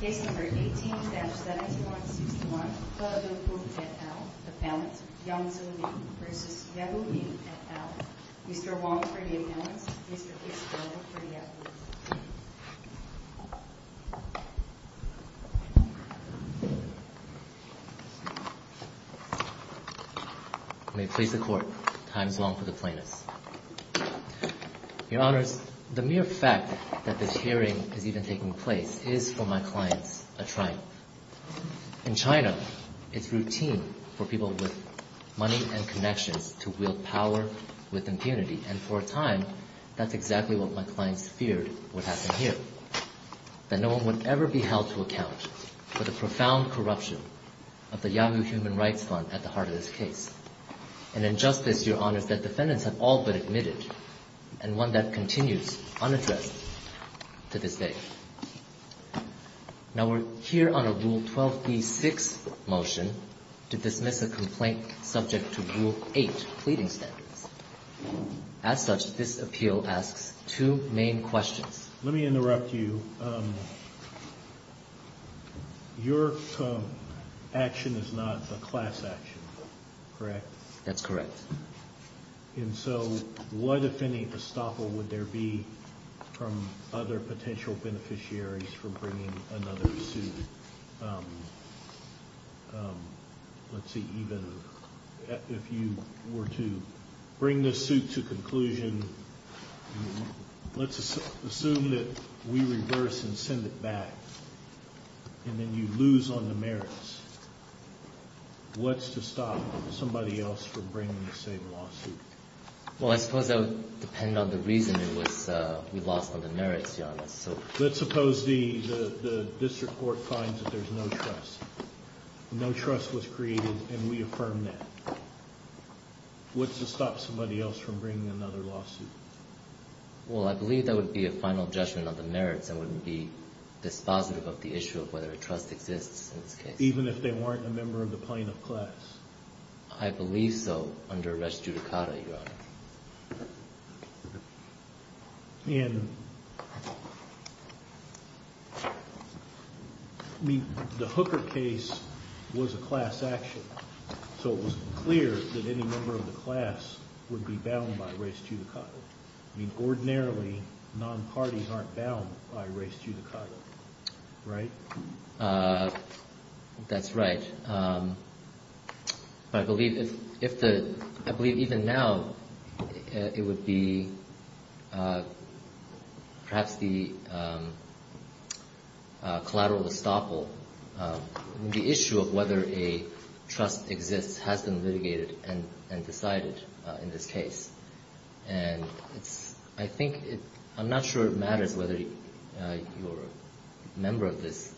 Case No. 18-7161, De Depu v. et al. Appellants Young-Soo Lee v. Yahoo! Inc. et al. Mr. Wong for the appellants, Mr. Kisabell for the appellants. You may place the court. Time is long for the plaintiffs. Your Honors, the mere fact that this hearing is even taking place is, for my clients, a triumph. In China, it's routine for people with money and connections to wield power with impunity, and for a time, that's exactly what my clients feared would happen here. That no one would ever be held to account for the profound corruption of the Yahoo! Human Rights Fund at the heart of this case. An injustice, Your Honors, that defendants have all but admitted, and one that continues unaddressed to this day. Now we're here on a Rule 12b-6 motion to dismiss a complaint subject to Rule 8 pleading standards. As such, this appeal asks two main questions. Let me interrupt you. Your action is not a class action, correct? That's correct. And so what, if any, estoppel would there be from other potential beneficiaries for bringing another suit? Let's see, even if you were to bring this suit to conclusion, let's assume that we reverse and send it back, and then you lose on the merits. What's to stop somebody else from bringing the same lawsuit? Well, I suppose that would depend on the reason it was we lost on the merits, Your Honors. Let's suppose the district court finds that there's no trust. No trust was created, and we affirm that. What's to stop somebody else from bringing another lawsuit? Well, I believe that would be a final judgment on the merits. I wouldn't be dispositive of the issue of whether a trust exists in this case. Even if they weren't a member of the plaintiff class? I believe so, under res judicata, Your Honor. And the Hooker case was a class action, so it was clear that any member of the class would be bound by res judicata. Ordinarily, non-parties aren't bound by res judicata, right? That's right. But I believe even now, it would be perhaps the collateral estoppel, the issue of whether a trust exists has been litigated and decided in this case. And I think it – I'm not sure it matters whether you're a member of this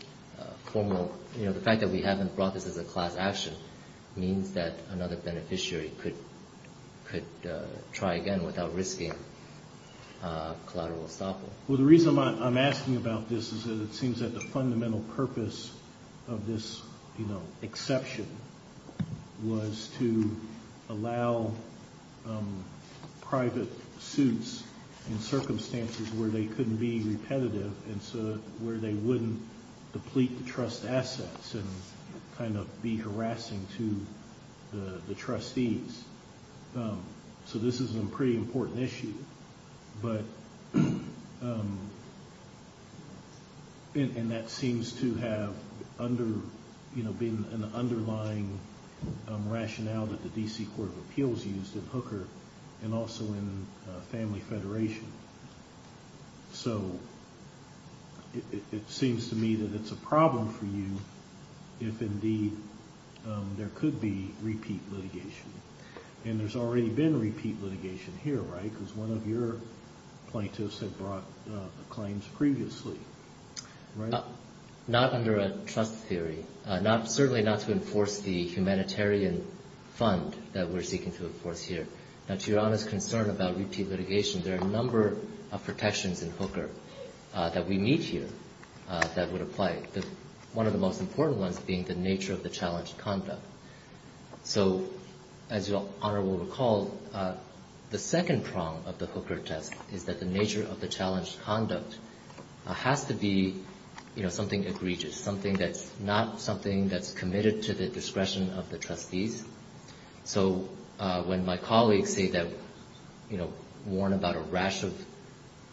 formal – you know, the fact that we haven't brought this as a class action means that another beneficiary could try again without risking collateral estoppel. Well, the reason I'm asking about this is that it seems that the fundamental purpose of this, you know, exception was to allow private suits in circumstances where they couldn't be repetitive and so – where they wouldn't deplete the trust assets and kind of be harassing to the trustees. So this is a pretty important issue, but – and that seems to have under – you know, been an underlying rationale that the D.C. Court of Appeals used in Hooker and also in Family Federation. So it seems to me that it's a problem for you if indeed there could be repeat litigation. And there's already been repeat litigation here, right? Because one of your plaintiffs had brought the claims previously, right? Not under a trust theory, not – certainly not to enforce the humanitarian fund that we're seeking to enforce here. Now, to Your Honor's concern about repeat litigation, there are a number of protections in Hooker that we meet here that would apply. One of the most important ones being the nature of the challenged conduct. So as Your Honor will recall, the second prong of the Hooker test is that the nature of the challenged conduct has to be, you know, something egregious, something that's not something that's committed to the discretion of the trustees. So when my colleagues say that, you know, warn about a rash of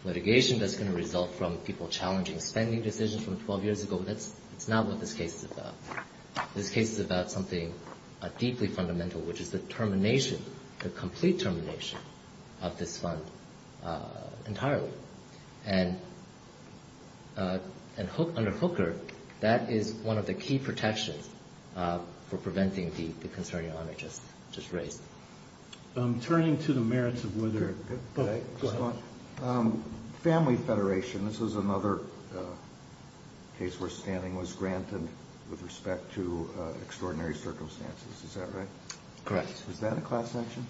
litigation that's going to result from people challenging spending decisions from 12 years ago, that's not what this case is about. This case is about something deeply fundamental, which is the termination, the complete termination of this fund entirely. And under Hooker, that is one of the key protections for preventing the concern Your Honor just raised. Turning to the merits of whether – go ahead. Family federation, this is another case where standing was granted with respect to extraordinary circumstances. Is that right? Correct. Is that a class action?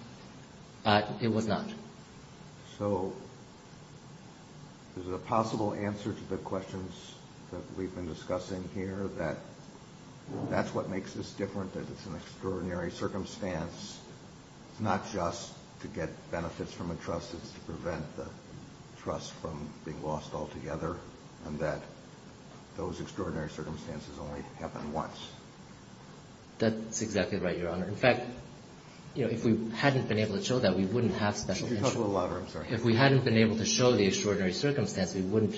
It was not. So is it a possible answer to the questions that we've been discussing here that that's what makes this different, that it's an extraordinary circumstance? It's not just to get benefits from a trust. It's to prevent the trust from being lost altogether and that those extraordinary circumstances only happen once. That's exactly right, Your Honor. In fact, you know, if we hadn't been able to show that, we wouldn't have special – If we hadn't been able to show the extraordinary circumstance, we wouldn't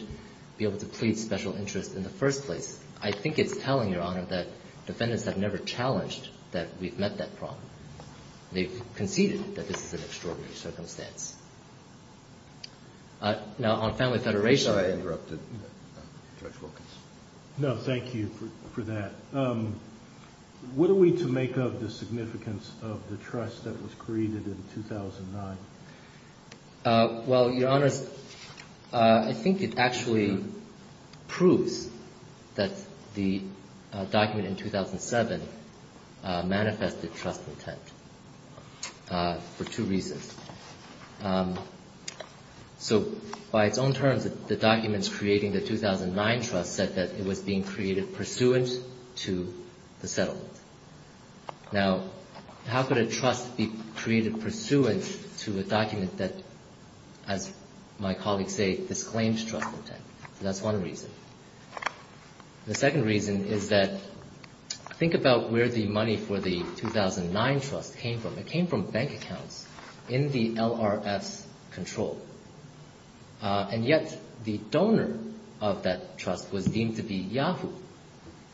be able to plead special interest in the first place. I think it's telling, Your Honor, that defendants have never challenged that we've met that problem. They've conceded that this is an extraordinary circumstance. Now, on family federation – Sorry, I interrupted Judge Wilkins. No, thank you for that. What are we to make of the significance of the trust that was created in 2009? Well, Your Honors, I think it actually proves that the document in 2007 manifested trust intent for two reasons. So by its own terms, the documents creating the 2009 trust said that it was being created pursuant to the settlement. Now, how could a trust be created pursuant to a document that, as my colleagues say, disclaims trust intent? So that's one reason. The second reason is that think about where the money for the 2009 trust came from. It came from bank accounts in the LRF's control. And yet the donor of that trust was deemed to be Yahoo.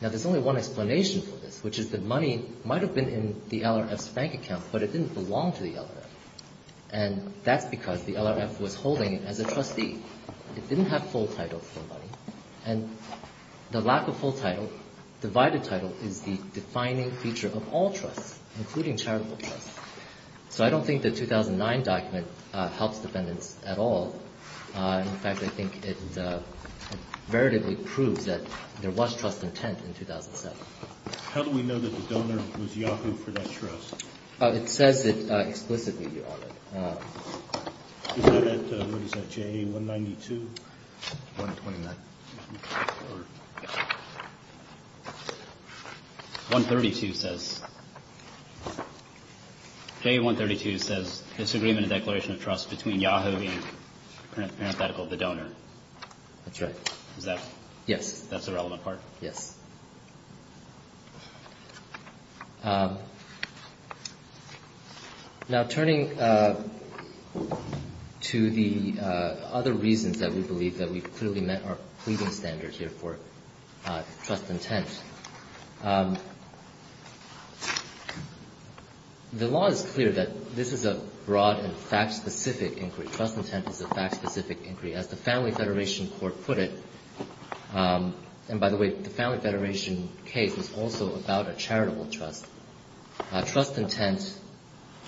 Now, there's only one explanation for this, which is that money might have been in the LRF's bank account, but it didn't belong to the LRF. And that's because the LRF was holding it as a trustee. It didn't have full title for the money. And the lack of full title, divided title, is the defining feature of all trusts, including charitable trusts. So I don't think the 2009 document helps defendants at all. In fact, I think it veritably proves that there was trust intent in 2007. How do we know that the donor was Yahoo for that trust? It says it explicitly, Your Honor. Is that at, what is that, JA-192? 129. 132 says, JA-132 says disagreement in declaration of trust between Yahoo and, parenthetical, the donor. That's right. Is that? Yes. That's the relevant part? Yes. Now, turning to the other reasons that we believe that we've clearly met our pleading standards here for trust intent, the law is clear that this is a broad and fact-specific inquiry. Trust intent is a fact-specific inquiry. As the Family Federation Court put it, and by the way, the Family Federation case was also about a charitable trust. Trust intent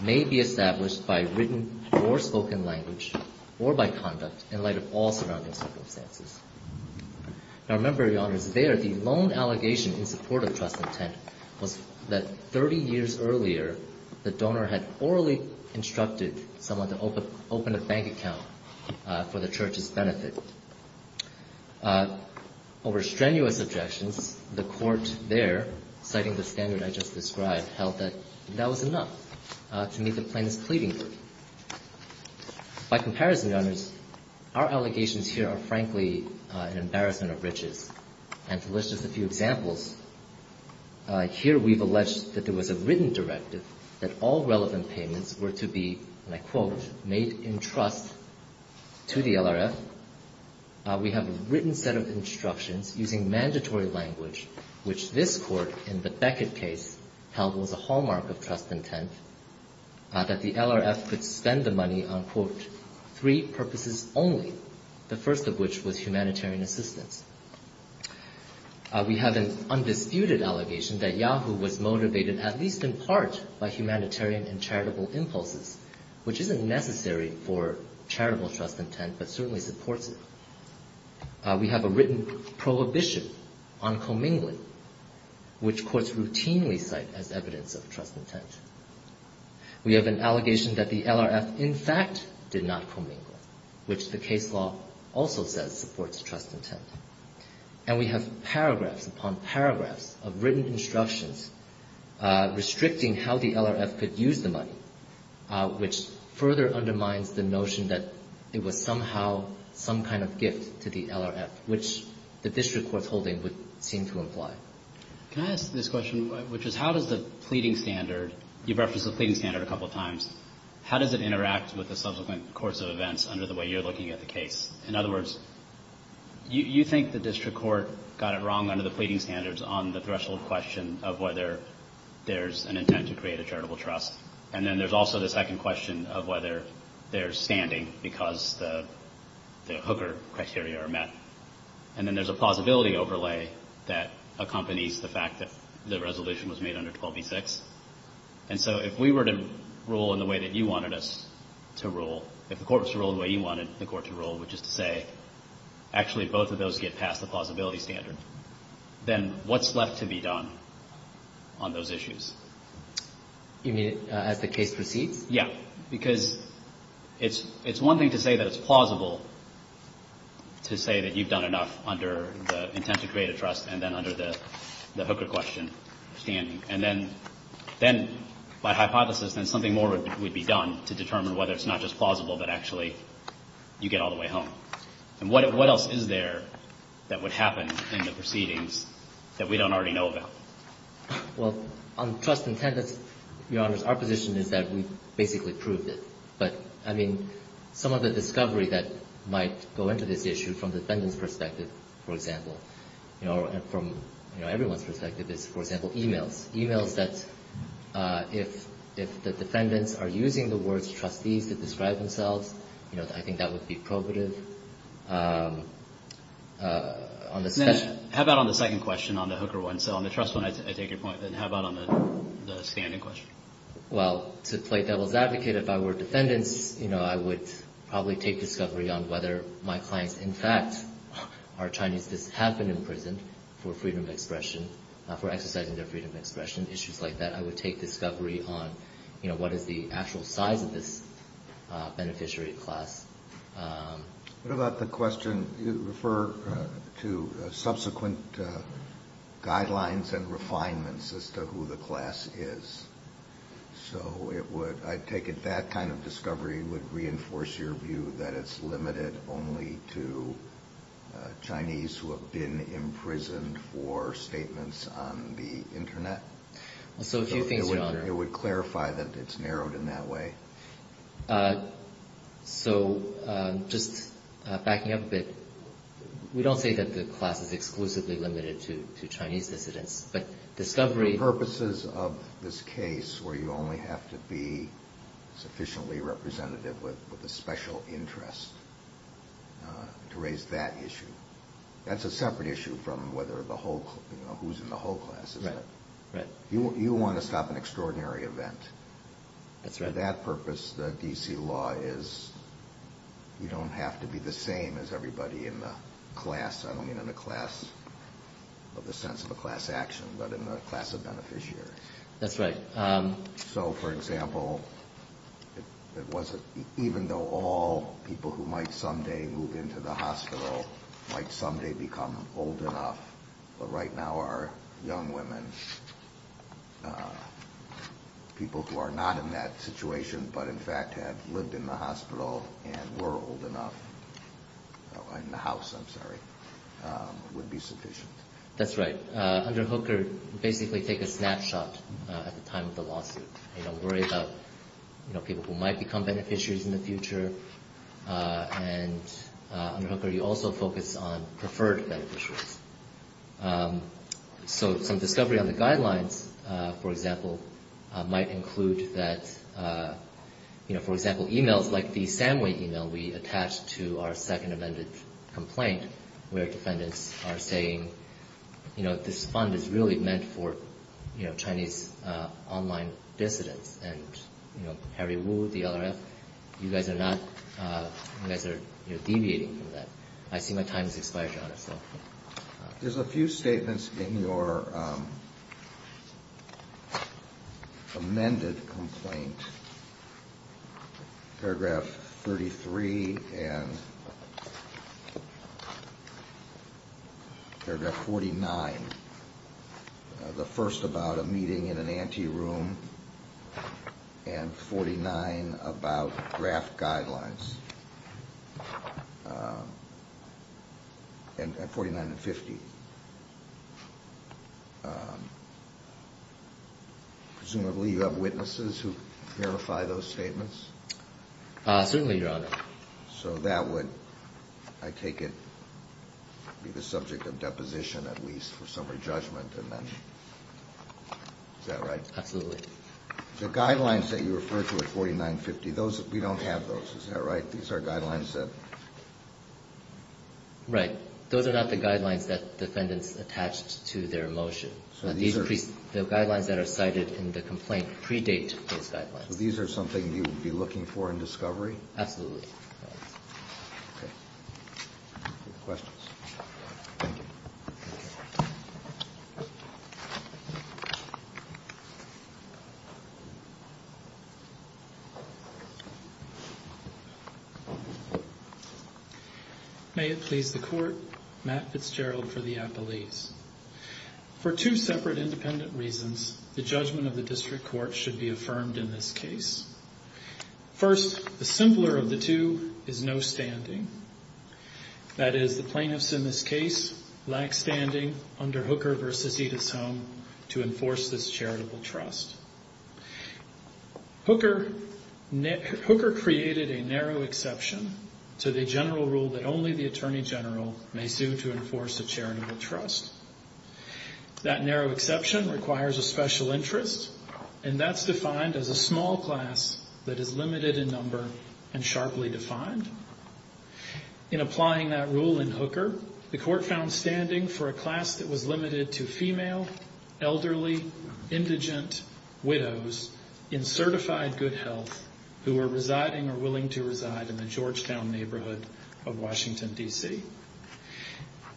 may be established by written or spoken language or by conduct in light of all surrounding circumstances. Now, remember, Your Honors, there, the lone allegation in support of trust intent was that 30 years earlier, the donor had orally instructed someone to open a bank account for the church's benefit. Over strenuous objections, the court there, citing the standard I just described, held that that was enough to meet the plaintiff's pleading group. By comparison, Your Honors, our allegations here are, frankly, an embarrassment of riches. And to list just a few examples, here we've alleged that there was a written directive that all relevant payments were to be, and I quote, made in trust to the LRF. We have a written set of instructions using mandatory language, which this Court in the Beckett case held was a hallmark of trust intent, that the LRF could spend the money on, quote, three purposes only, the first of which was humanitarian assistance. We have an undisputed allegation that Yahoo was motivated at least in part by humanitarian and charitable impulses, which isn't necessary for charitable trust intent, but certainly supports it. We have a written prohibition on commingling, which courts routinely cite as evidence of trust intent. We have an allegation that the LRF, in fact, did not commingle, which the case law also says supports trust intent. And we have paragraphs upon paragraphs of written instructions restricting how the LRF could use the money, which further undermines the notion that it was somehow some kind of gift to the LRF, which the district court's holding would seem to imply. Can I ask this question, which is how does the pleading standard, you've referenced the pleading standard a couple of times, how does it interact with the subsequent course of events under the way you're looking at the case? In other words, you think the district court got it wrong under the pleading standards on the threshold question of whether there's an intent to create a charitable trust, and then there's also the second question of whether there's standing because the hooker criteria are met. And then there's a plausibility overlay that accompanies the fact that the resolution was made under 12b-6. And so if we were to rule in the way that you wanted us to rule, if the Court was to rule the way you wanted the Court to rule, which is to say actually both of those get past the plausibility standard, then what's left to be done on those issues? You mean as the case proceeds? Yeah, because it's one thing to say that it's plausible to say that you've done enough under the intent to create a trust and then under the hooker question standing. And then by hypothesis, then something more would be done to determine whether it's not just plausible, but actually you get all the way home. And what else is there that would happen in the proceedings that we don't already know about? Well, on trust intent, Your Honors, our position is that we've basically proved it. But, I mean, some of the discovery that might go into this issue from the defendant's perspective, for example, or from everyone's perspective is, for example, e-mails. E-mails that if the defendants are using the words trustees to describe themselves, I think that would be probative. How about on the second question, on the hooker one? So on the trust one, I take your point, then how about on the standing question? Well, to play devil's advocate, if I were defendants, I would probably take discovery on whether my clients in fact are Chinese that have been imprisoned for freedom of expression, for exercising their freedom of expression, issues like that. I would take discovery on what is the actual size of this beneficiary class. What about the question, you refer to subsequent guidelines and refinements as to who the class is. So I take it that kind of discovery would reinforce your view that it's limited only to Chinese who have been imprisoned for statements on the Internet? It would clarify that it's narrowed in that way. So just backing up a bit, we don't say that the class is exclusively limited to Chinese dissidents, but discovery... For purposes of this case where you only have to be sufficiently representative with a special interest to raise that issue, that's a separate issue from who's in the whole class, isn't it? Right. You want to stop an extraordinary event. That's right. For that purpose, the D.C. law is you don't have to be the same as everybody in the class. I don't mean in the sense of a class action, but in the class of beneficiary. That's right. So, for example, even though all people who might someday move into the hospital might someday become old enough, but right now our young women, people who are not in that situation but in fact have lived in the hospital and were old enough, in the house, I'm sorry, would be sufficient. That's right. Under Hooker, you basically take a snapshot at the time of the lawsuit. You don't worry about people who might become beneficiaries in the future. And under Hooker, you also focus on preferred beneficiaries. So some discovery on the guidelines, for example, might include that, for example, we attached to our second amended complaint where defendants are saying, you know, this fund is really meant for, you know, Chinese online dissidents. And, you know, Harry Wu, the LRF, you guys are not, you guys are deviating from that. I see my time has expired, Your Honor, so. There's a few statements in your amended complaint, paragraph 33 and paragraph 49, the first about a meeting in an ante room and 49 about draft guidelines. And 49 and 50. Presumably you have witnesses who verify those statements? Certainly, Your Honor. So that would, I take it, be the subject of deposition at least for summary judgment and then, is that right? Absolutely. The guidelines that you refer to at 49 and 50, those, we don't have those, is that right? These are guidelines that. Right. Those are not the guidelines that defendants attached to their motion. So these are. The guidelines that are cited in the complaint predate those guidelines. So these are something you would be looking for in discovery? Absolutely. Okay. Any questions? Thank you. Thank you. May it please the court, Matt Fitzgerald for the appellees. For two separate independent reasons, the judgment of the district court should be affirmed in this case. First, the simpler of the two is no standing. That is, the plaintiffs in this case lack standing under Hooker v. Edith's Home to enforce this charitable trust. Hooker created a narrow exception to the general rule that only the Attorney General may sue to enforce a charitable trust. That narrow exception requires a special interest, and that's defined as a small class that is limited in number and sharply defined. In applying that rule in Hooker, the court found standing for a class that was limited to female, elderly, indigent widows in certified good health who were residing or willing to reside in the Georgetown neighborhood of Washington, D.C.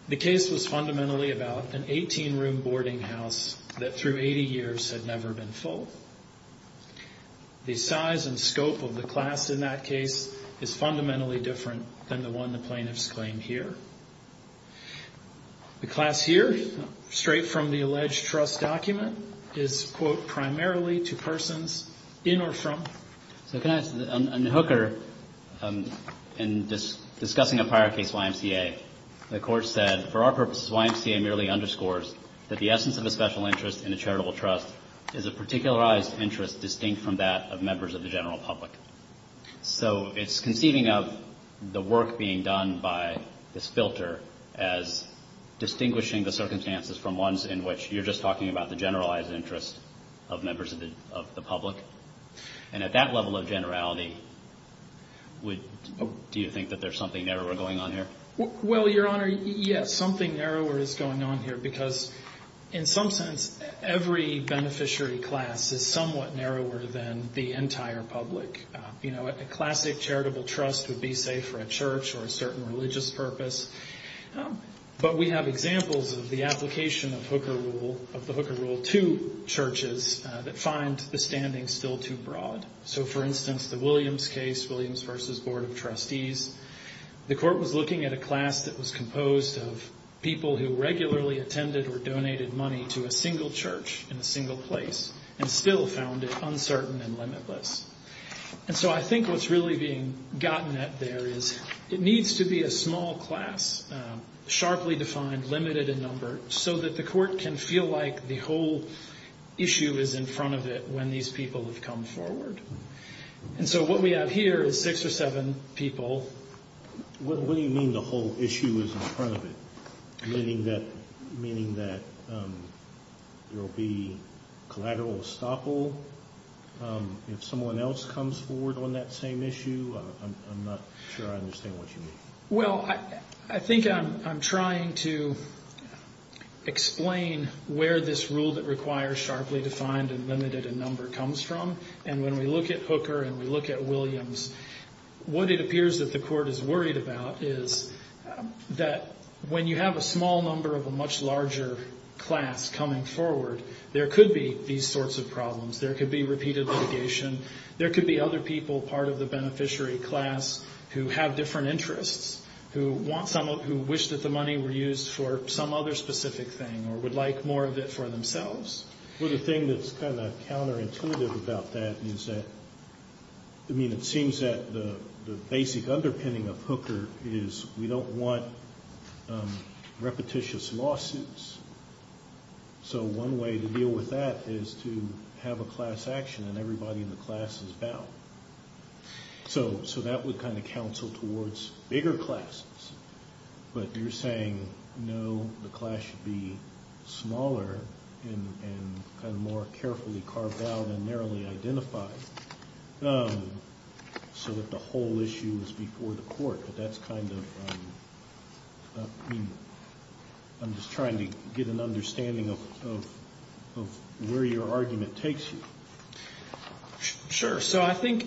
The case was fundamentally about an 18-room boarding house that through 80 years had never been full. The size and scope of the class in that case is fundamentally different than the one the plaintiffs claim here. The class here, straight from the alleged trust document, is, quote, primarily to persons in or from. So can I ask, in Hooker, in discussing a prior case, YMCA, the court said, for our purposes, YMCA merely underscores that the essence of a special interest in a charitable trust is a particularized interest distinct from that of members of the general public. So it's conceiving of the work being done by this filter as distinguishing the circumstances from ones in which you're just talking about the generalized interest of members of the public. And at that level of generality, do you think that there's something narrower going on here? Well, Your Honor, yes, something narrower is going on here because, in some sense, every beneficiary class is somewhat narrower than the entire public. You know, a classic charitable trust would be, say, for a church or a certain religious purpose. But we have examples of the application of the Hooker rule to churches that find the standing still too broad. So, for instance, the Williams case, Williams v. Board of Trustees, the court was looking at a class that was composed of people who regularly attended or donated money to a single church in a single place and still found it uncertain and limitless. And so I think what's really being gotten at there is it needs to be a small class, sharply defined, limited in number, so that the court can feel like the whole issue is in front of it when these people have come forward. And so what we have here is six or seven people. What do you mean the whole issue is in front of it, meaning that there will be collateral estoppel? If someone else comes forward on that same issue, I'm not sure I understand what you mean. Well, I think I'm trying to explain where this rule that requires sharply defined and limited in number comes from. And when we look at Hooker and we look at Williams, what it appears that the court is worried about is that when you have a small number of a much larger class coming forward, there could be these sorts of problems. There could be repeated litigation. There could be other people, part of the beneficiary class, who have different interests, who wish that the money were used for some other specific thing or would like more of it for themselves. Well, the thing that's kind of counterintuitive about that is that, I mean, it seems that the basic underpinning of Hooker is we don't want repetitious lawsuits. So one way to deal with that is to have a class action and everybody in the class is bound. So that would kind of counsel towards bigger classes. But you're saying, no, the class should be smaller and kind of more carefully carved out and narrowly identified so that the whole issue is before the court. But that's kind of, I mean, I'm just trying to get an understanding of where your argument takes you. Sure. So I think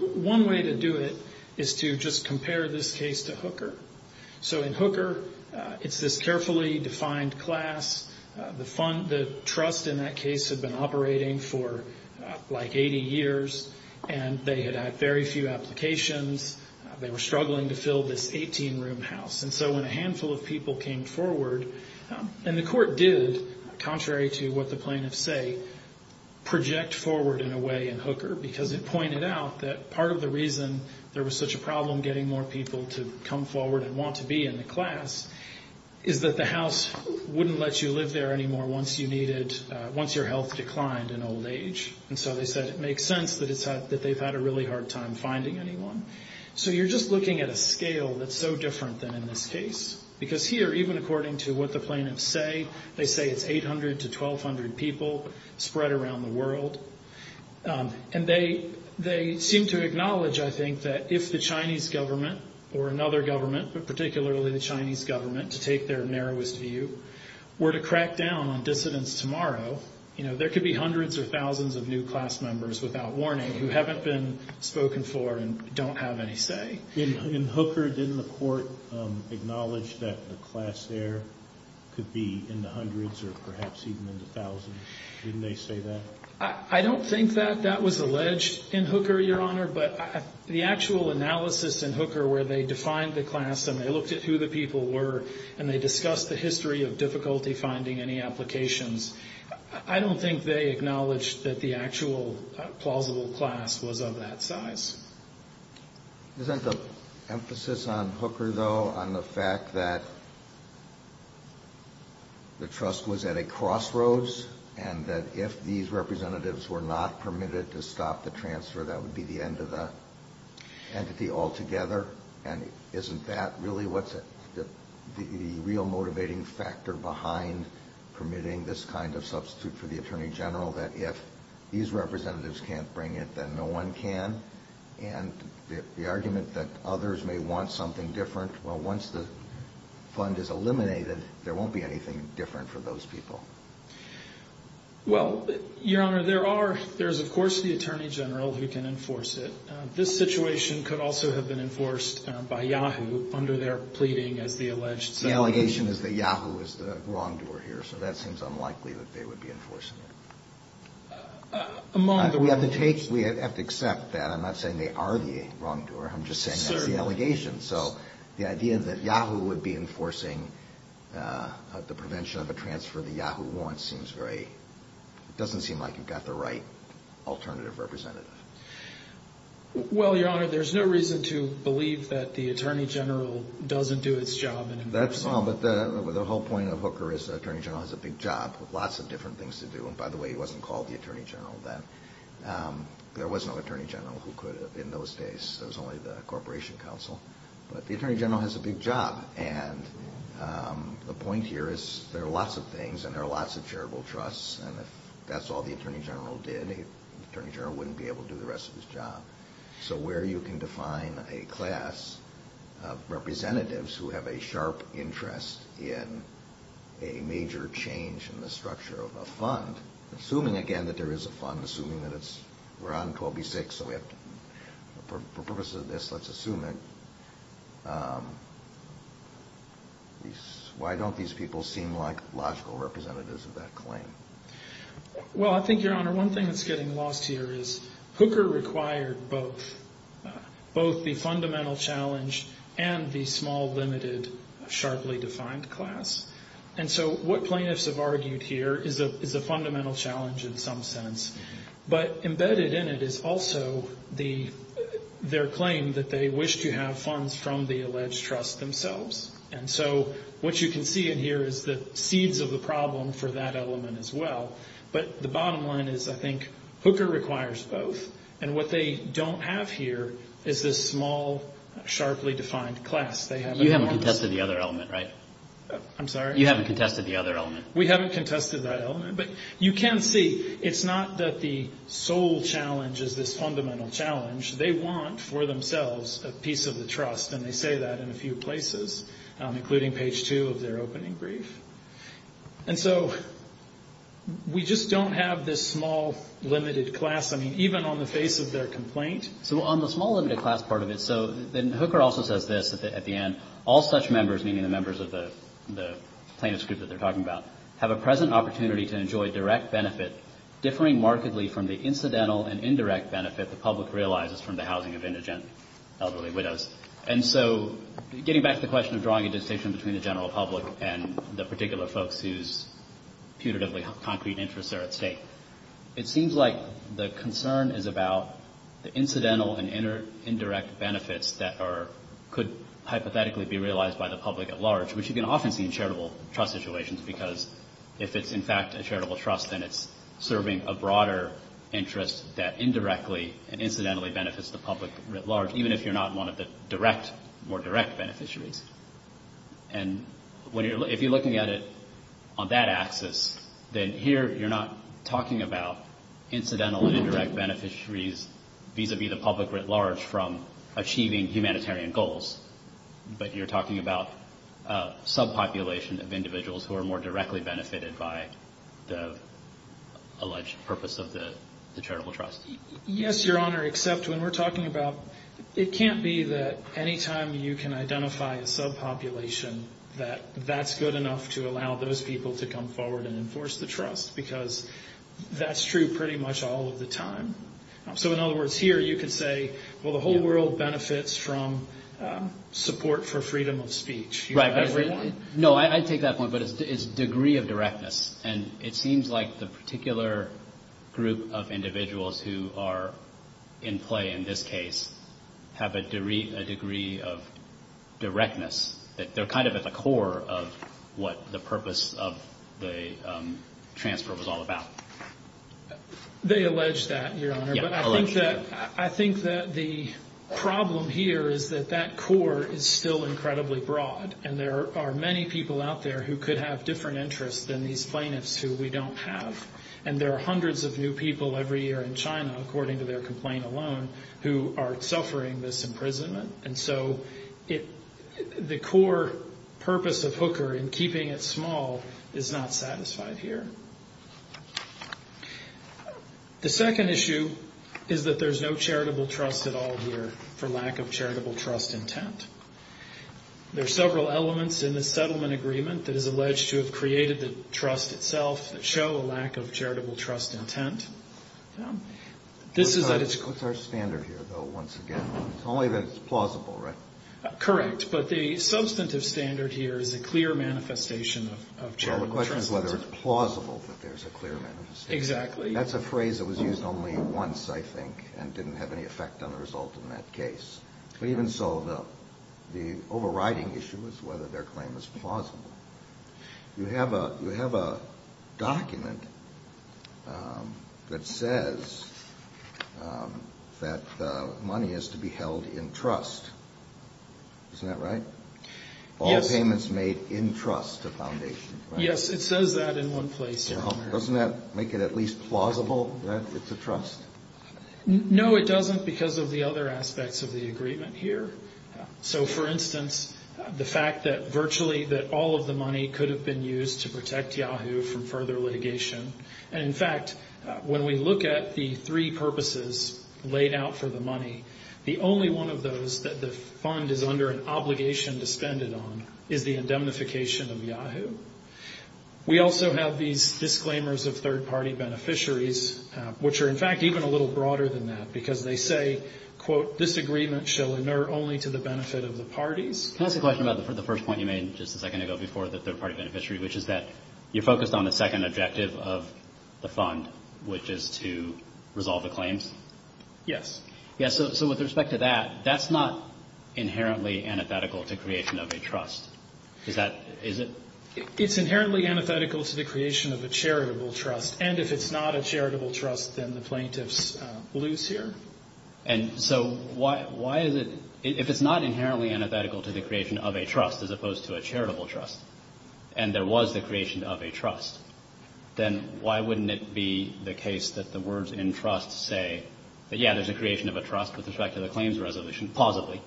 one way to do it is to just compare this case to Hooker. So in Hooker, it's this carefully defined class. The trust in that case had been operating for like 80 years, and they had had very few applications. They were struggling to fill this 18-room house. And so when a handful of people came forward, and the court did contrary to what the plaintiffs say project forward in a way in Hooker because it pointed out that part of the reason there was such a problem getting more people to come forward and want to be in the class is that the house wouldn't let you live there anymore once you needed, once your health declined in old age. And so they said it makes sense that they've had a really hard time finding anyone. So you're just looking at a scale that's so different than in this case. Because here, even according to what the plaintiffs say, they say it's 800 to 1,200 people spread around the world. And they seem to acknowledge, I think, that if the Chinese government or another government, but particularly the Chinese government, to take their narrowest view, were to crack down on dissidents tomorrow, you know, there could be hundreds or thousands of new class members without warning who haven't been spoken for and don't have any say. In Hooker, didn't the court acknowledge that the class there could be in the hundreds or perhaps even in the thousands? Didn't they say that? I don't think that that was alleged in Hooker, Your Honor. But the actual analysis in Hooker where they defined the class and they looked at who the people were and they discussed the history of difficulty finding any applications, I don't think they acknowledged that the actual plausible class was of that size. Isn't the emphasis on Hooker, though, on the fact that the trust was at a crossroads and that if these representatives were not permitted to stop the transfer, that would be the end of the entity altogether? And isn't that really what's the real motivating factor behind permitting this kind of substitute for the attorney general, that if these representatives can't bring it, then no one can? And the argument that others may want something different, well, once the fund is eliminated, there won't be anything different for those people. Well, Your Honor, there's, of course, the attorney general who can enforce it. This situation could also have been enforced by YAHOO under their pleading as the alleged substitute. The allegation is that YAHOO is the wrongdoer here, so that seems unlikely that they would be enforcing it. We have to accept that. I'm not saying they are the wrongdoer. I'm just saying that's the allegation. So the idea that YAHOO would be enforcing the prevention of a transfer that YAHOO wants seems very – Well, Your Honor, there's no reason to believe that the attorney general doesn't do its job in enforcing it. Well, but the whole point of Hooker is the attorney general has a big job with lots of different things to do. And, by the way, he wasn't called the attorney general then. There was no attorney general who could in those days. It was only the Corporation Council. But the attorney general has a big job. And the point here is there are lots of things and there are lots of charitable trusts. And if that's all the attorney general did, the attorney general wouldn't be able to do the rest of his job. So where you can define a class of representatives who have a sharp interest in a major change in the structure of a fund – assuming, again, that there is a fund, assuming that it's – we're on 12B-6, so we have to – why don't these people seem like logical representatives of that claim? Well, I think, Your Honor, one thing that's getting lost here is Hooker required both the fundamental challenge and the small, limited, sharply defined class. And so what plaintiffs have argued here is a fundamental challenge in some sense. But embedded in it is also their claim that they wish to have funds from the alleged trust themselves. And so what you can see in here is the seeds of the problem for that element as well. But the bottom line is, I think, Hooker requires both. And what they don't have here is this small, sharply defined class. You haven't contested the other element, right? I'm sorry? You haven't contested the other element. We haven't contested that element. But you can see it's not that the sole challenge is this fundamental challenge. They want for themselves a piece of the trust, and they say that in a few places, including page 2 of their opening brief. And so we just don't have this small, limited class. I mean, even on the face of their complaint. So on the small, limited class part of it, so then Hooker also says this at the end. All such members, meaning the members of the plaintiff's group that they're talking about, have a present opportunity to enjoy direct benefit differing markedly from the incidental and indirect benefit the public realizes from the housing of indigent elderly widows. And so getting back to the question of drawing a distinction between the general public and the particular folks whose putatively concrete interests are at stake, it seems like the concern is about the incidental and indirect benefits that could hypothetically be realized by the public at large, which you can often see in charitable trust situations because if it's in fact a charitable trust, then it's serving a broader interest that indirectly and incidentally benefits the public at large, even if you're not one of the more direct beneficiaries. And if you're looking at it on that axis, then here you're not talking about incidental and indirect beneficiaries vis-a-vis the public at large from achieving humanitarian goals, but you're talking about subpopulation of individuals who are more directly benefited by the alleged purpose of the charitable trust. Yes, Your Honor, except when we're talking about it can't be that any time you can identify a subpopulation, that that's good enough to allow those people to come forward and enforce the trust because that's true pretty much all of the time. So in other words, here you could say, well, the whole world benefits from support for freedom of speech. No, I take that point, but it's degree of directness, and it seems like the particular group of individuals who are in play in this case have a degree of directness. They're kind of at the core of what the purpose of the transfer was all about. They allege that, Your Honor, but I think that the problem here is that that core is still incredibly broad, and there are many people out there who could have different interests than these plaintiffs who we don't have. And there are hundreds of new people every year in China, according to their complaint alone, who are suffering this imprisonment. And so the core purpose of Hooker in keeping it small is not satisfied here. The second issue is that there's no charitable trust at all here for lack of charitable trust intent. There are several elements in the settlement agreement that is alleged to have created the trust itself that show a lack of charitable trust intent. What's our standard here, though, once again? It's only that it's plausible, right? Correct, but the substantive standard here is a clear manifestation of charitable trust intent. Well, the question is whether it's plausible that there's a clear manifestation. Exactly. That's a phrase that was used only once, I think, and didn't have any effect on the result in that case. But even so, the overriding issue is whether their claim is plausible. You have a document that says that money has to be held in trust. Isn't that right? Yes. All payments made in trust to Foundation, right? Yes, it says that in one place. Doesn't that make it at least plausible that it's a trust? No, it doesn't because of the other aspects of the agreement here. So, for instance, the fact that virtually all of the money could have been used to protect Yahoo! from further litigation. And, in fact, when we look at the three purposes laid out for the money, the only one of those that the Fund is under an obligation to spend it on is the indemnification of Yahoo! We also have these disclaimers of third-party beneficiaries, which are, in fact, even a little broader than that, because they say, quote, this agreement shall inert only to the benefit of the parties. Can I ask a question about the first point you made just a second ago before the third-party beneficiary, which is that you focused on the second objective of the Fund, which is to resolve the claims? Yes. Yes. So with respect to that, that's not inherently antithetical to creation of a trust. Is that – is it? It's inherently antithetical to the creation of a charitable trust. And if it's not a charitable trust, then the plaintiffs lose here? And so why is it – if it's not inherently antithetical to the creation of a trust as opposed to a charitable trust, and there was the creation of a trust, then why wouldn't it be the case that the words in trust say that, yeah, there's a creation of a trust with respect to the claims resolution? Positively.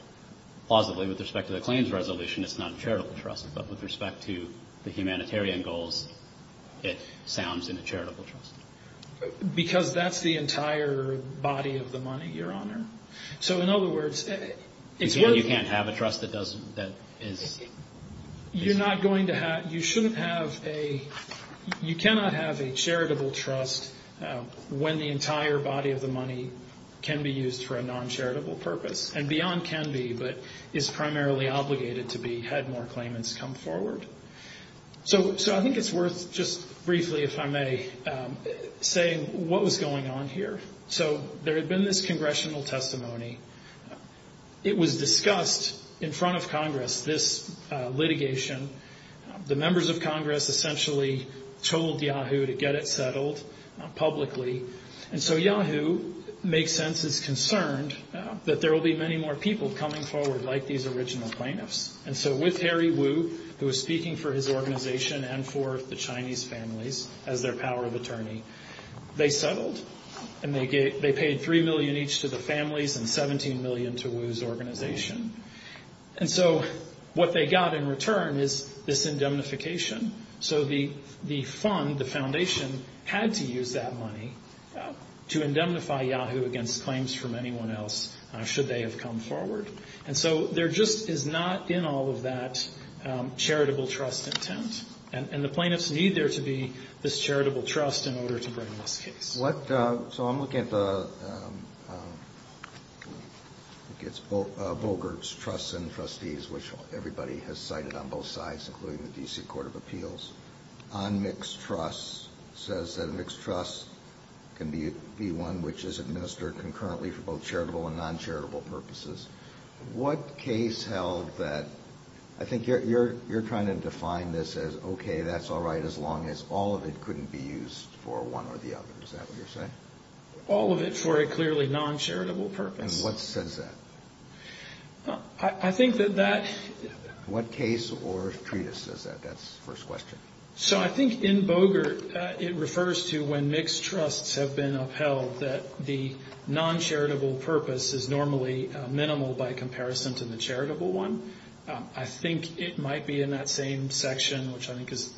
Positively, with respect to the claims resolution, it's not a charitable trust. But with respect to the humanitarian goals, it sounds in a charitable trust. Because that's the entire body of the money, Your Honor. So in other words, it's worth – You can't have a trust that doesn't – that is – You're not going to have – you shouldn't have a – you cannot have a charitable trust when the entire body of the money can be used for a non-charitable purpose. And beyond can be, but is primarily obligated to be had more claimants come forward. So I think it's worth just briefly, if I may, saying what was going on here. So there had been this congressional testimony. It was discussed in front of Congress, this litigation. The members of Congress essentially told Yahoo to get it settled publicly. And so Yahoo makes sense. It's concerned that there will be many more people coming forward like these original plaintiffs. And so with Harry Wu, who was speaking for his organization and for the Chinese families as their power of attorney, they settled and they paid $3 million each to the families and $17 million to Wu's organization. And so what they got in return is this indemnification. So the fund, the foundation, had to use that money to indemnify Yahoo against claims from anyone else should they have come forward. And so there just is not in all of that charitable trust intent. And the plaintiffs need there to be this charitable trust in order to bring this case. So I'm looking at the, I think it's Bogert's Trusts and Trustees, which everybody has cited on both sides, including the D.C. Court of Appeals, on mixed trusts, says that a mixed trust can be one which is administered concurrently for both charitable and non-charitable purposes. What case held that, I think you're trying to define this as okay, that's all right, as long as all of it couldn't be used for one or the other. Is that what you're saying? All of it for a clearly non-charitable purpose. And what says that? I think that that. What case or treatise says that? That's the first question. So I think in Bogert it refers to when mixed trusts have been upheld, that the non-charitable purpose is normally minimal by comparison to the charitable one. I think it might be in that same section, which I think is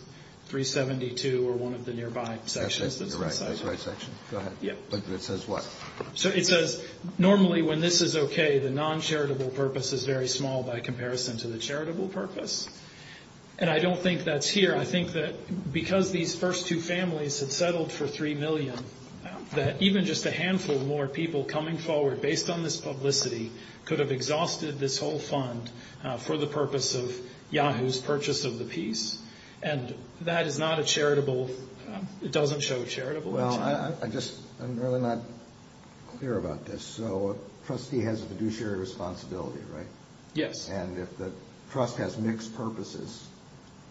372 or one of the nearby sections. That's the right section. Go ahead. It says what? So it says normally when this is okay, the non-charitable purpose is very small by comparison to the charitable purpose. And I don't think that's here. I think that because these first two families had settled for $3 million, that even just a handful more people coming forward based on this publicity could have exhausted this whole fund for the purpose of Yahoo's purchase of the piece. And that is not a charitable, it doesn't show charitable. Well, I'm really not clear about this. So a trustee has a fiduciary responsibility, right? Yes. And if the trust has mixed purposes,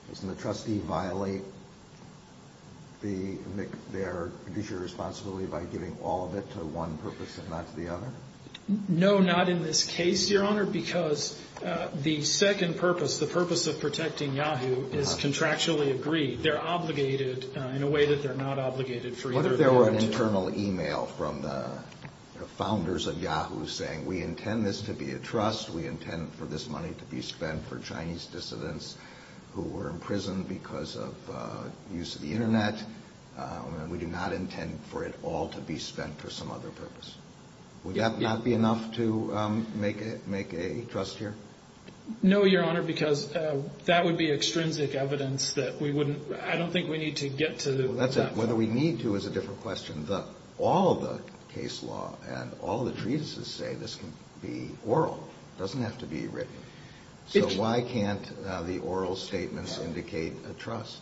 doesn't the trustee violate their fiduciary responsibility by giving all of it to one purpose and not to the other? No, not in this case, Your Honor, because the second purpose, the purpose of protecting Yahoo, is contractually agreed. They're obligated in a way that they're not obligated for either of the other two. What if there were an internal e-mail from the founders of Yahoo saying, we intend this to be a trust, we intend for this money to be spent for Chinese dissidents who were imprisoned because of use of the Internet, and we do not intend for it all to be spent for some other purpose. Would that not be enough to make a trust here? No, Your Honor, because that would be extrinsic evidence that we wouldn't, I don't think we need to get to that point. Whether we need to is a different question. All the case law and all the treatises say this can be oral. It doesn't have to be written. So why can't the oral statements indicate a trust?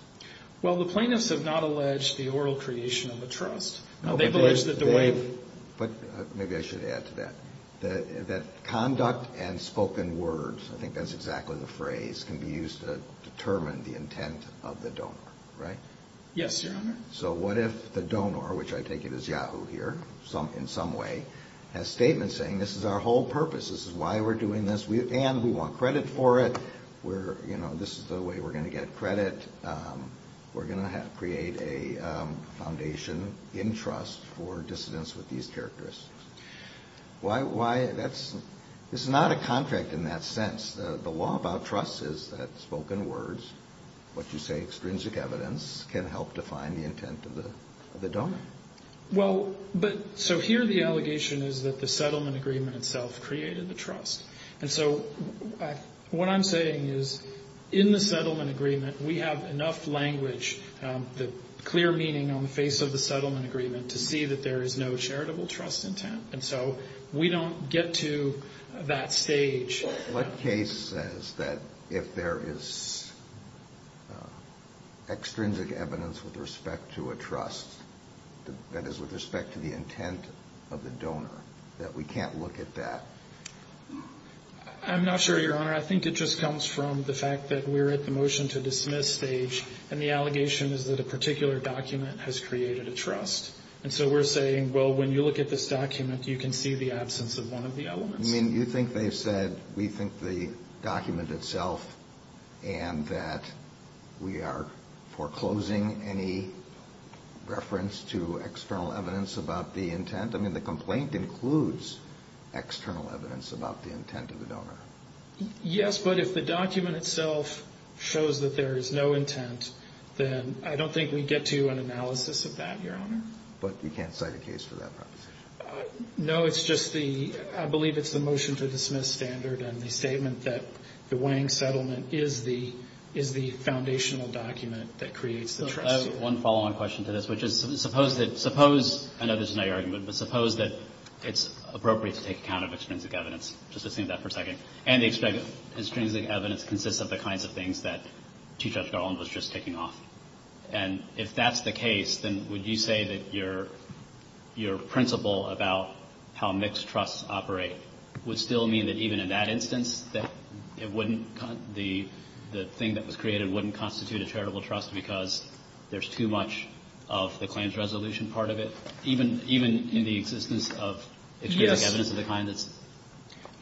Well, the plaintiffs have not alleged the oral creation of a trust. They've alleged that the way they've... Maybe I should add to that, that conduct and spoken words, I think that's exactly the phrase, can be used to determine the intent of the donor, right? Yes, Your Honor. So what if the donor, which I take it is Yahoo here, in some way, has statements saying, this is our whole purpose, this is why we're doing this, and we want credit for it, this is the way we're going to get credit, we're going to create a foundation in trust for dissidents with these characteristics. This is not a contract in that sense. The law about trust is that spoken words, what you say extrinsic evidence, can help define the intent of the donor. Well, but so here the allegation is that the settlement agreement itself created the trust. And so what I'm saying is in the settlement agreement we have enough language, the clear meaning on the face of the settlement agreement, to see that there is no charitable trust intent. And so we don't get to that stage. What case says that if there is extrinsic evidence with respect to a trust, that is with respect to the intent of the donor, that we can't look at that? I'm not sure, Your Honor. I think it just comes from the fact that we're at the motion to dismiss stage, and the allegation is that a particular document has created a trust. And so we're saying, well, when you look at this document, you can see the absence of one of the elements. You think they've said we think the document itself and that we are foreclosing any reference to external evidence about the intent? I mean, the complaint includes external evidence about the intent of the donor. Yes, but if the document itself shows that there is no intent, then I don't think we get to an analysis of that, Your Honor. But you can't cite a case for that proposition? No, it's just the – I believe it's the motion to dismiss standard and the statement that the Wang settlement is the foundational document that creates the trust. I have one follow-on question to this, which is suppose that – suppose – I know this is not your argument, but suppose that it's appropriate to take account of extrinsic evidence, just to say that for a second, and the extrinsic evidence consists of the kinds of things that Chief Judge Garland was just taking off. And if that's the case, then would you say that your principle about how mixed trusts operate would still mean that even in that instance that it wouldn't – the thing that was created wouldn't constitute a charitable trust because there's too much of the claims resolution part of it, even in the existence of extrinsic evidence of the kind that's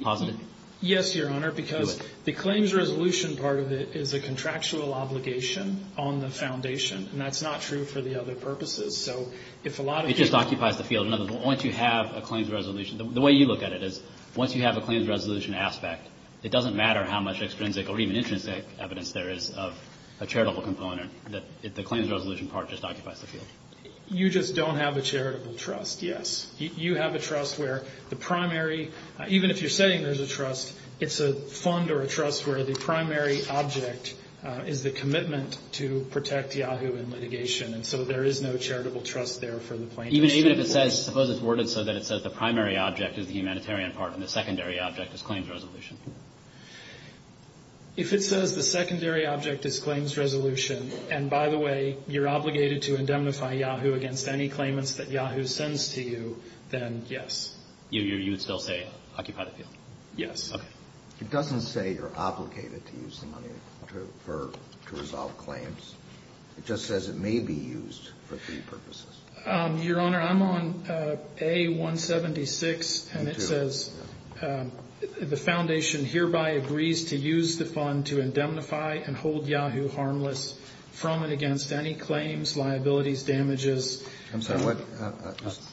positive? Yes, Your Honor, because the claims resolution part of it is a contractual obligation on the foundation, and that's not true for the other purposes. So if a lot of – It just occupies the field. In other words, once you have a claims resolution – the way you look at it is once you have a claims resolution aspect, it doesn't matter how much extrinsic or even intrinsic evidence there is of a charitable component. The claims resolution part just occupies the field. You just don't have a charitable trust, yes. You have a trust where the primary – even if you're saying there's a trust, it's a fund or a trust where the primary object is the commitment to protect Yahoo! in litigation, and so there is no charitable trust there for the plaintiffs. Even if it says – suppose it's worded so that it says the primary object is the humanitarian part and the secondary object is claims resolution. If it says the secondary object is claims resolution, and by the way you're obligated to indemnify Yahoo! against any claimants that Yahoo! sends to you, then yes. You would still say occupy the field? Yes. Okay. It doesn't say you're obligated to use the money to resolve claims. It just says it may be used for three purposes. Your Honor, I'm on A176, and it says the foundation hereby agrees to use the fund to indemnify and hold Yahoo! harmless from and against any claims, liabilities, damages. I'm sorry, what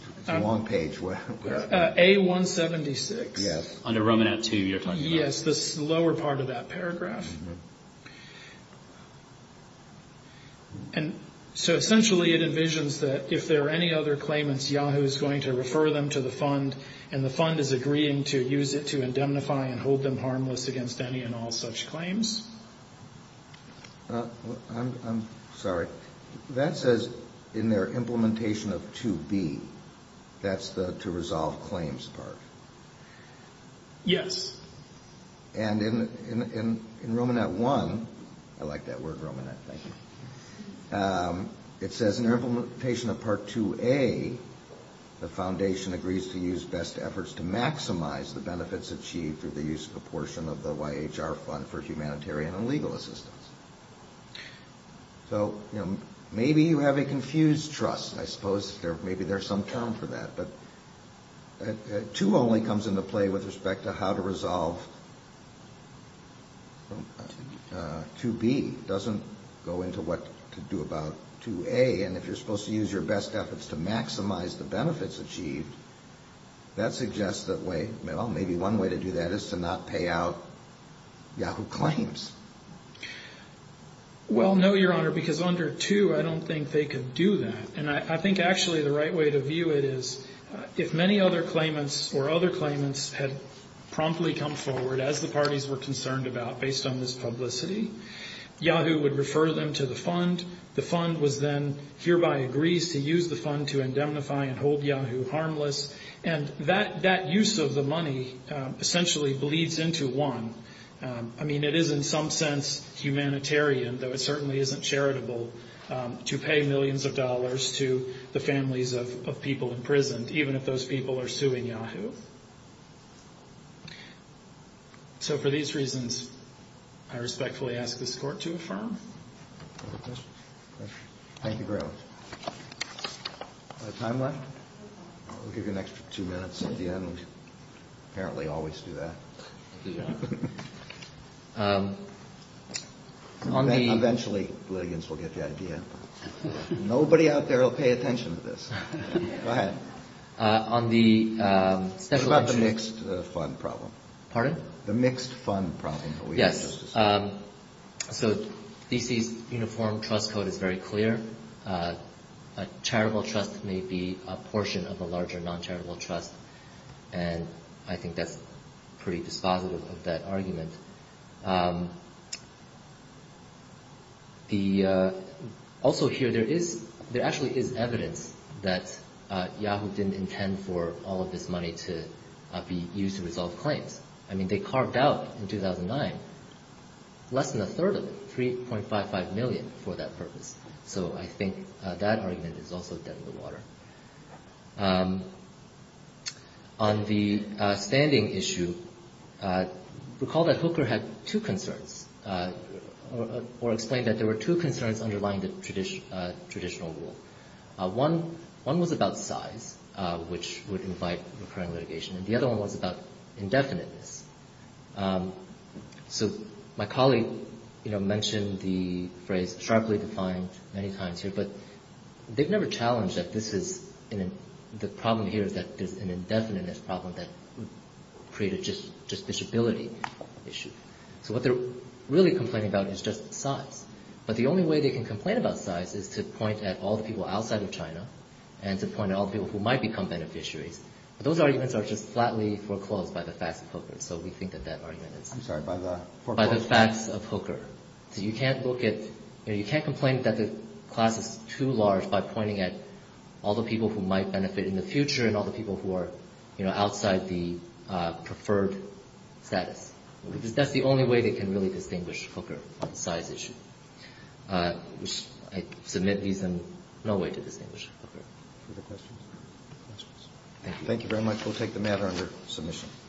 – it's a long page. A176. Yes. Under Romanat II you're talking about. Yes, the lower part of that paragraph. So essentially it envisions that if there are any other claimants, Yahoo! is going to refer them to the fund, and the fund is agreeing to use it to indemnify and hold them harmless against any and all such claims. I'm sorry. That says in their implementation of 2B, that's the to resolve claims part. Yes. And in Romanat I – I like that word, Romanat, thank you – it says in their implementation of Part 2A, the foundation agrees to use best efforts to maximize the benefits achieved through the use of a portion of the YHR fund for humanitarian and legal assistance. So, you know, maybe you have a confused trust, I suppose. Maybe there's some term for that. But 2 only comes into play with respect to how to resolve 2B. It doesn't go into what to do about 2A. And if you're supposed to use your best efforts to maximize the benefits achieved, that suggests that way – well, maybe one way to do that is to not pay out Yahoo! claims. Well, no, Your Honor, because under 2, I don't think they could do that. And I think actually the right way to view it is if many other claimants or other claimants had promptly come forward, as the parties were concerned about based on this publicity, Yahoo! would refer them to the fund. The fund was then – hereby agrees to use the fund to indemnify and hold Yahoo! harmless. And that use of the money essentially bleeds into 1. I mean, it is in some sense humanitarian, though it certainly isn't charitable to pay millions of dollars to the families of people imprisoned, even if those people are suing Yahoo! So for these reasons, I respectfully ask this Court to affirm. Thank you, Graves. Is there time left? We'll give you an extra two minutes at the end. We apparently always do that. Thank you, Your Honor. Eventually, litigants will get the idea. Nobody out there will pay attention to this. Go ahead. It's about the mixed fund problem. Pardon? The mixed fund problem that we have. Yes. So D.C.'s uniform trust code is very clear. A charitable trust may be a portion of a larger non-charitable trust, and I think that's pretty dispositive of that argument. Also here, there actually is evidence that Yahoo! didn't intend for all of this money to be used to resolve claims. I mean, they carved out in 2009 less than a third of it, 3.55 million for that purpose. So I think that argument is also dead in the water. On the standing issue, recall that Hooker had two concerns, or explained that there were two concerns underlying the traditional rule. One was about size, which would invite recurring litigation, and the other one was about indefiniteness. So my colleague mentioned the phrase sharply defined many times here, but they've never challenged that the problem here is that there's an indefiniteness problem that would create a justiciability issue. So what they're really complaining about is just size. But the only way they can complain about size is to point at all the people outside of China and to point at all the people who might become beneficiaries. But those arguments are just flatly foreclosed by the facts of Hooker, so we think that that argument is foreclosed by the facts of Hooker. So you can't look at, you can't complain that the class is too large by pointing at all the people who might benefit in the future and all the people who are outside the preferred status. That's the only way they can really distinguish Hooker on the size issue. I submit these in no way to distinguish Hooker. Further questions? Thank you. Thank you very much. We'll take the matter under submission.